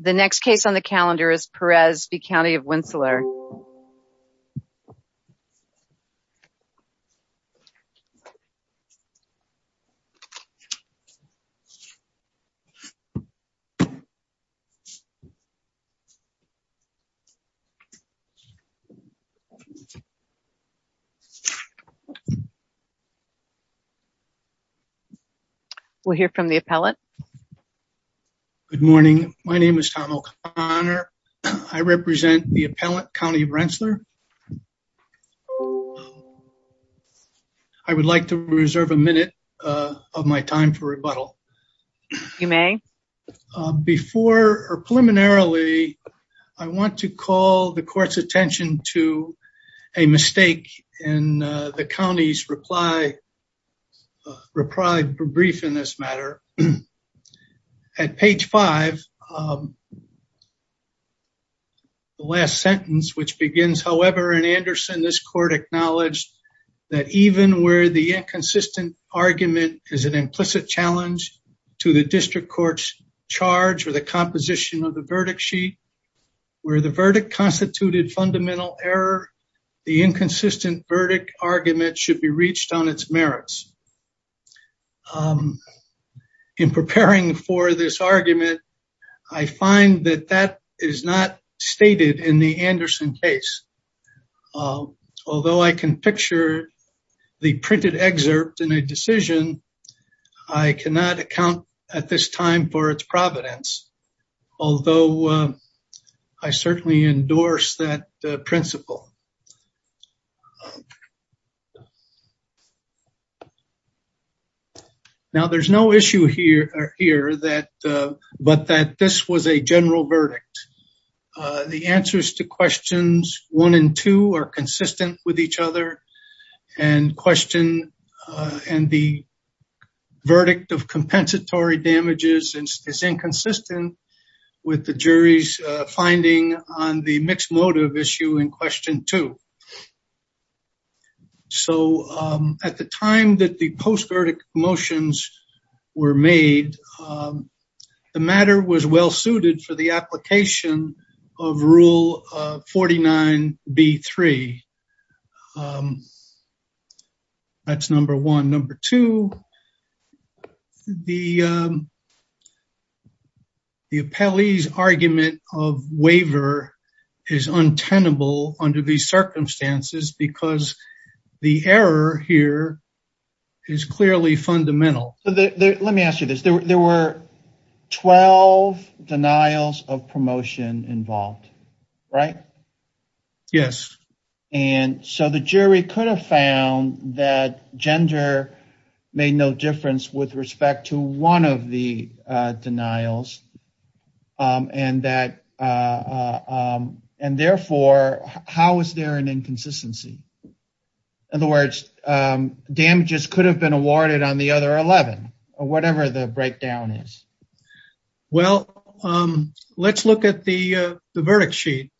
The next case on the calendar is Perez v. County of Rensselaer. We'll hear from the appellate. Good morning. My name is Tom O'Connor. I represent the appellate County of Rensselaer. I would like to reserve a minute of my time for rebuttal. You may. Before or preliminarily, I want to call the court's attention to a mistake in the county's reply brief in this matter. At page five, the last sentence, which begins, however, in Anderson, this court acknowledged that even where the inconsistent argument is an implicit challenge to the district court's charge or the composition of the verdict sheet, where the verdict constituted fundamental error, the inconsistent verdict argument should be reached on its merits. In preparing for this argument, I find that that is not stated in the Anderson case. Although I can picture the printed excerpt in a decision, I cannot account at this time for its providence. Although I certainly endorse that principle. Now there's no issue here, but that this was a general verdict. The answers to questions one and two are consistent with each other and the verdict of compensatory damages is inconsistent with the jury's finding on the mixed motive issue in question two. So at the time that the post-verdict motions were made, the matter was well-suited for the application of rule 49B3. That's number one. And number two, the appellee's argument of waiver is untenable under these circumstances because the error here is clearly fundamental. Let me ask you this. There were 12 denials of promotion involved, right? Yes. And so the jury could have found that gender made no difference with respect to one of the denials and therefore, how is there an inconsistency? In other words, damages could have been awarded on the other 11, or whatever the breakdown is. Well, let's look at the verdict sheet.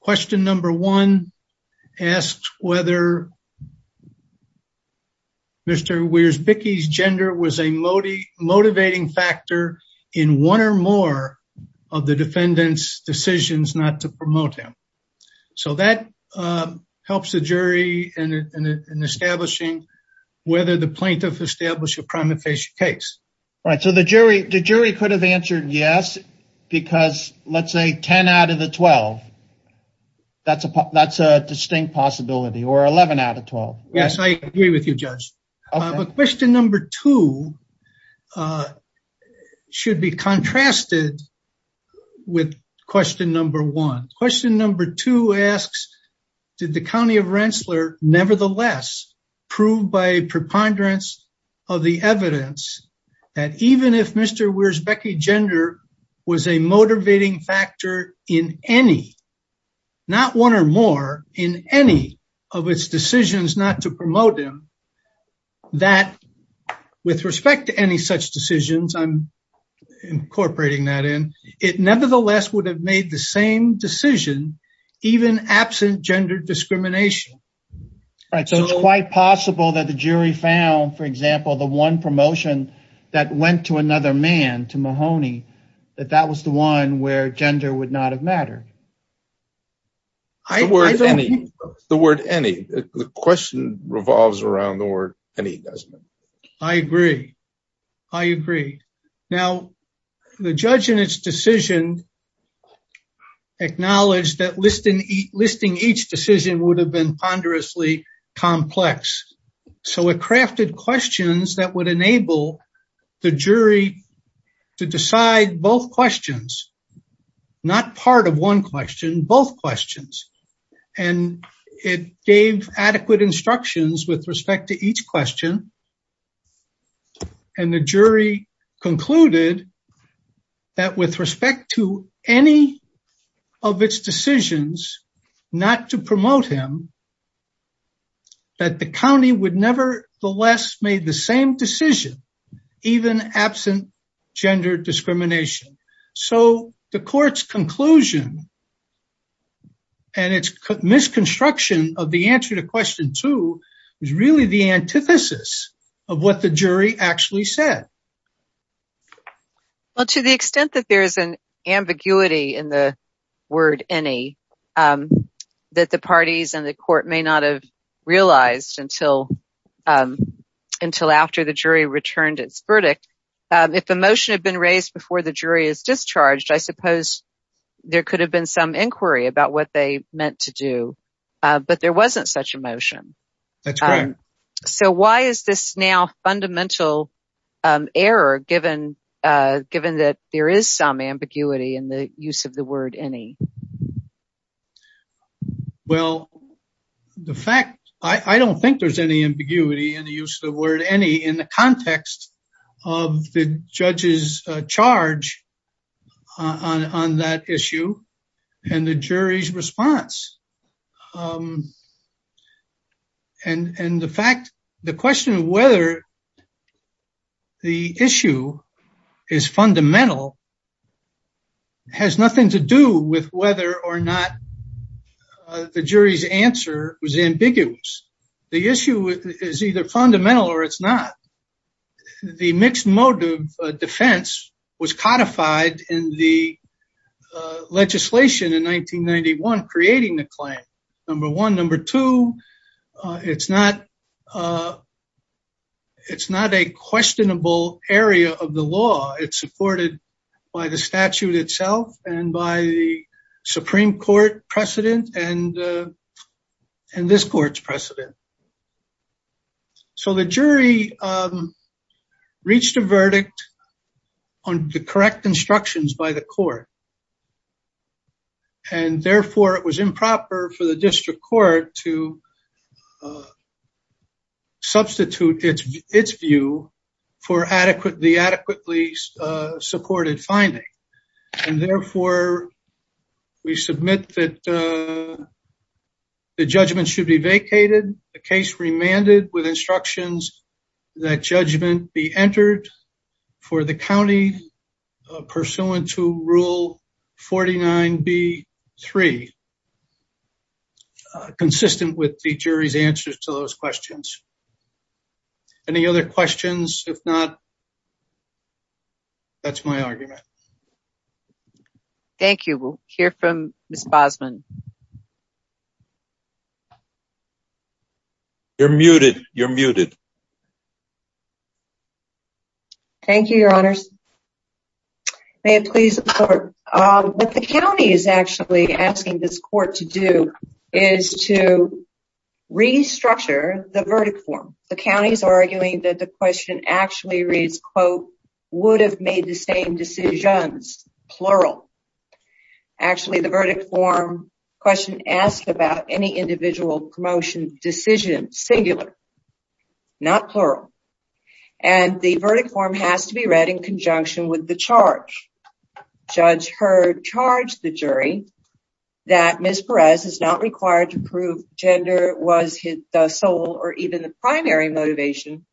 Question number one asks whether Mr. Wears-Bickey's gender was a motivating factor in one or more of the defendant's decisions not to promote him. So that helps the jury in establishing whether the plaintiff established a crime of facial case. Right. So the jury could have answered yes, because let's say 10 out of the 12. That's a distinct possibility, or 11 out of 12. Yes, I agree with you, Judge. But question number two should be contrasted with question number one. Question number two asks, did the County of Rensselaer nevertheless prove by a preponderance of the evidence that even if Mr. Wears-Bickey's gender was a motivating factor in any, not one or more, in any of its decisions not to promote him, that with respect to any such decisions I'm incorporating that in, it nevertheless would have made the same decision even absent gender discrimination? Right. So it's quite possible that the jury found, for example, the one promotion that went to another man, to Mahoney, that that was the one where gender would not have mattered. The word any, the question revolves around the word any, doesn't it? I agree. I agree. Now, the judge in its decision acknowledged that listing each decision would have been ponderously complex. So it crafted questions that would enable the jury to decide both questions, not part of one question, both questions. And it gave adequate instructions with respect to each question. And the jury concluded that with respect to any of its decisions not to promote him, that the county would nevertheless made the same decision, even absent gender discrimination. So the court's conclusion and its misconstruction of the answer to question two is really the antithesis of what the jury actually said. Well, to the extent that there is an ambiguity in the word any, that the parties and the court may not have realized until after the jury returned its verdict, if a motion had been raised before the jury is discharged, I suppose there could have been some inquiry about what they meant to do, but there wasn't such a motion. That's correct. So why is this now a fundamental error, given that there is some ambiguity in the use of the word any? Well, the fact, I don't think there's any ambiguity in the use of the word any in the judge's charge on that issue and the jury's response. And the fact, the question of whether the issue is fundamental has nothing to do with whether or not the jury's answer was ambiguous. The issue is either fundamental or it's not. The mixed motive defense was codified in the legislation in 1991, creating the claim, number one. Number two, it's not a questionable area of the law. It's supported by the statute itself and by the Supreme Court precedent and this court's precedent. So the jury reached a verdict on the correct instructions by the court. And therefore, it was improper for the district court to substitute its view for the adequately supported finding. And therefore, we submit that the judgment should be vacated, the case remanded with instructions that judgment be entered for the county pursuant to Rule 49B-3, consistent with the jury's answers to those questions. Any other questions? If not, that's my argument. Thank you. We'll hear from Ms. Bosman. You're muted. You're muted. Thank you, Your Honors. May it please the court. What the county is actually asking this court to do is to restructure the verdict form. The county is arguing that the question actually reads, quote, would have made the same decisions, plural. Actually, the verdict form question asked about any individual promotion decision, singular, not plural. And the verdict form has to be read in conjunction with the charge. Judge Heard charged the jury that Ms. Perez is not required to prove gender was the sole or even the primary motivation.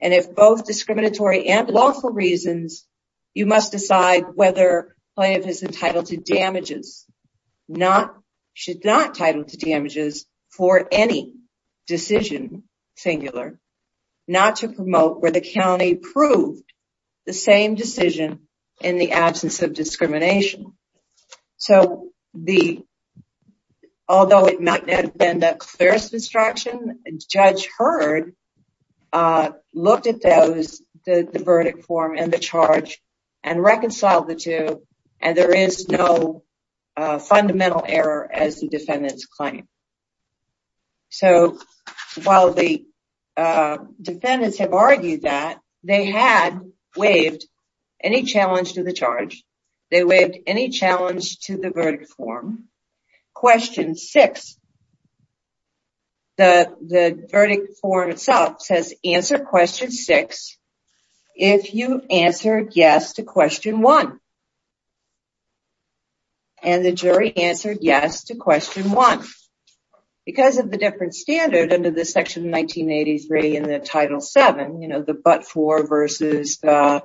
And if both discriminatory and lawful reasons, you must decide whether plaintiff is entitled to damages, should not title to damages for any decision, singular, not to promote where the county proved the same decision in the absence of discrimination. So the, although it might not have been the clearest instruction, Judge Heard looked at those, the verdict form and the charge and reconciled the two. And there is no fundamental error as the defendants claim. So while the defendants have argued that they had waived any challenge to the charge, they waived any challenge to the verdict form, question six, the verdict form itself says answer question six, if you answer yes to question one. And the jury answered yes to question one. Because of the different standard under the section 1983 in the title seven, you know, but for versus the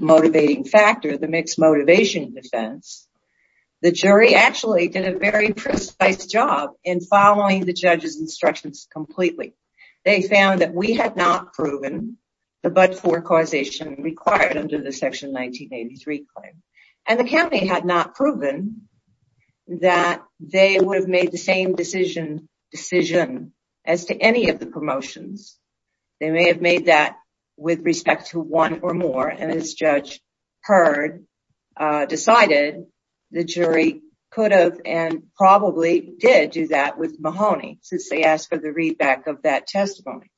motivating factor, the mixed motivation defense, the jury actually did a very precise job in following the judge's instructions completely. They found that we had not proven the but for causation required under the section 1983 claim. And the county had not proven that they would have made the same decision as to any of the promotions. They may have made that with respect to one or more. And as Judge Heard decided, the jury could have and probably did do that with Mahoney since they asked for the read back of that testimony.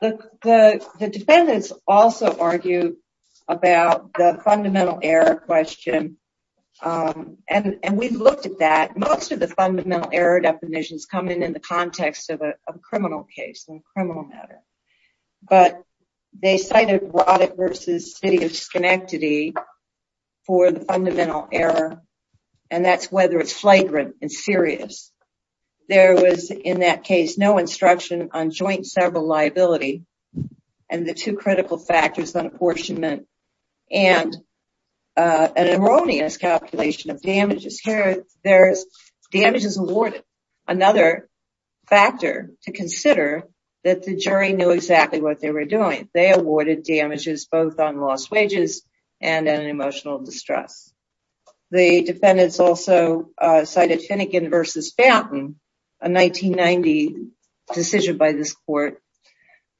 The defendants also argue about the fundamental error question. And we've looked at that. Most of the fundamental error definitions come in in the context of a criminal case and criminal matter. But they cited Roddick versus city of Schenectady for the fundamental error. And that's whether it's flagrant and serious. There was in that case no instruction on joint several liability and the two critical factors on apportionment. And an erroneous calculation of damages here. There's damages awarded. Another factor to consider that the jury knew exactly what they were doing. They awarded damages both on lost wages and an emotional distress. The defendants also cited Finnegan versus Fountain, a 1990 decision by this court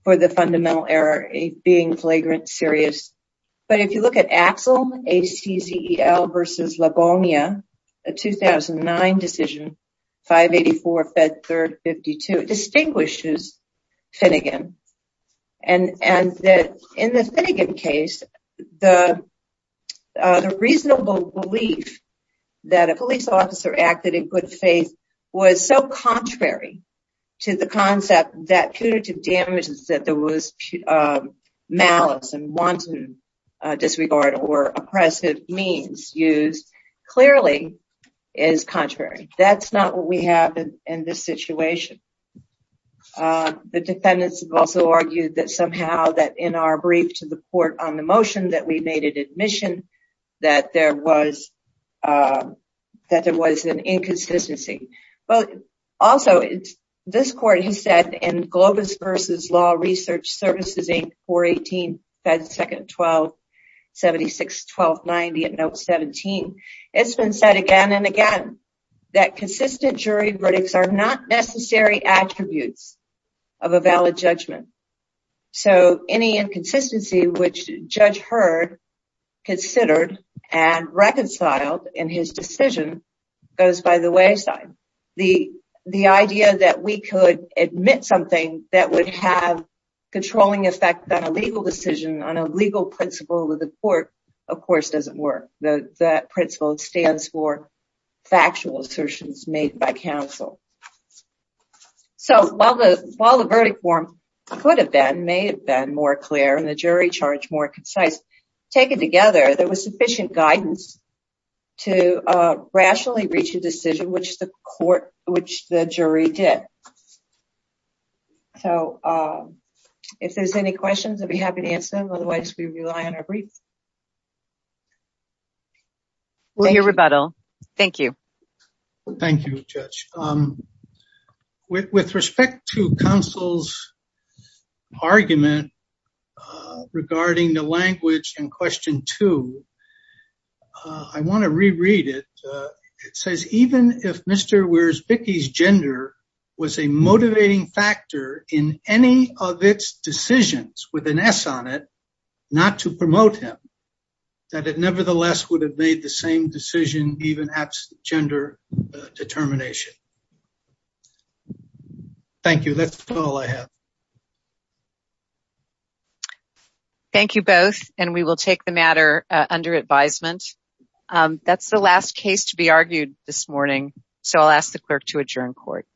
for the fundamental error being flagrant, serious. But if you look at Axel versus Labonia, a 2009 decision, 584 fed third 52. It distinguishes Finnegan. And in the Finnegan case, the reasonable belief that a police officer acted in good faith was so contrary to the concept that punitive damages that there was malice and wanton disregard or oppressive means used clearly is contrary. That's not what we have in this situation. The defendants have also argued that somehow that in our brief to the court on the motion that we made it admission that there was an inconsistency. But also, it's this court, he said in Globus versus Law Research Services Inc. 418 fed second 1276 1290 at note 17. It's been said again and again that consistent jury verdicts are not necessary attributes of a valid judgment. So any inconsistency which judge heard, considered and reconciled in his decision goes by the the the idea that we could admit something that would have controlling effect on a legal decision on a legal principle of the court, of course, doesn't work. The principle stands for factual assertions made by counsel. So while the while the verdict form could have been may have been more clear and the jury charge more concise, taken together, there was sufficient guidance to rationally reach a decision which the court which the jury did. So if there's any questions, I'd be happy to answer them. Otherwise, we rely on our brief. We'll hear rebuttal. Thank you. Thank you, Judge. With respect to counsel's argument regarding the language in question two, I want to reread it says even if Mr. Where's Vicky's gender was a motivating factor in any of its decisions with an S on it, not to promote him, that it nevertheless would have made the same decision, even absent gender determination. Thank you. That's all I have. Thank you both. And we will take the matter under advisement. That's the last case to be argued this morning. So I'll ask the clerk to adjourn court.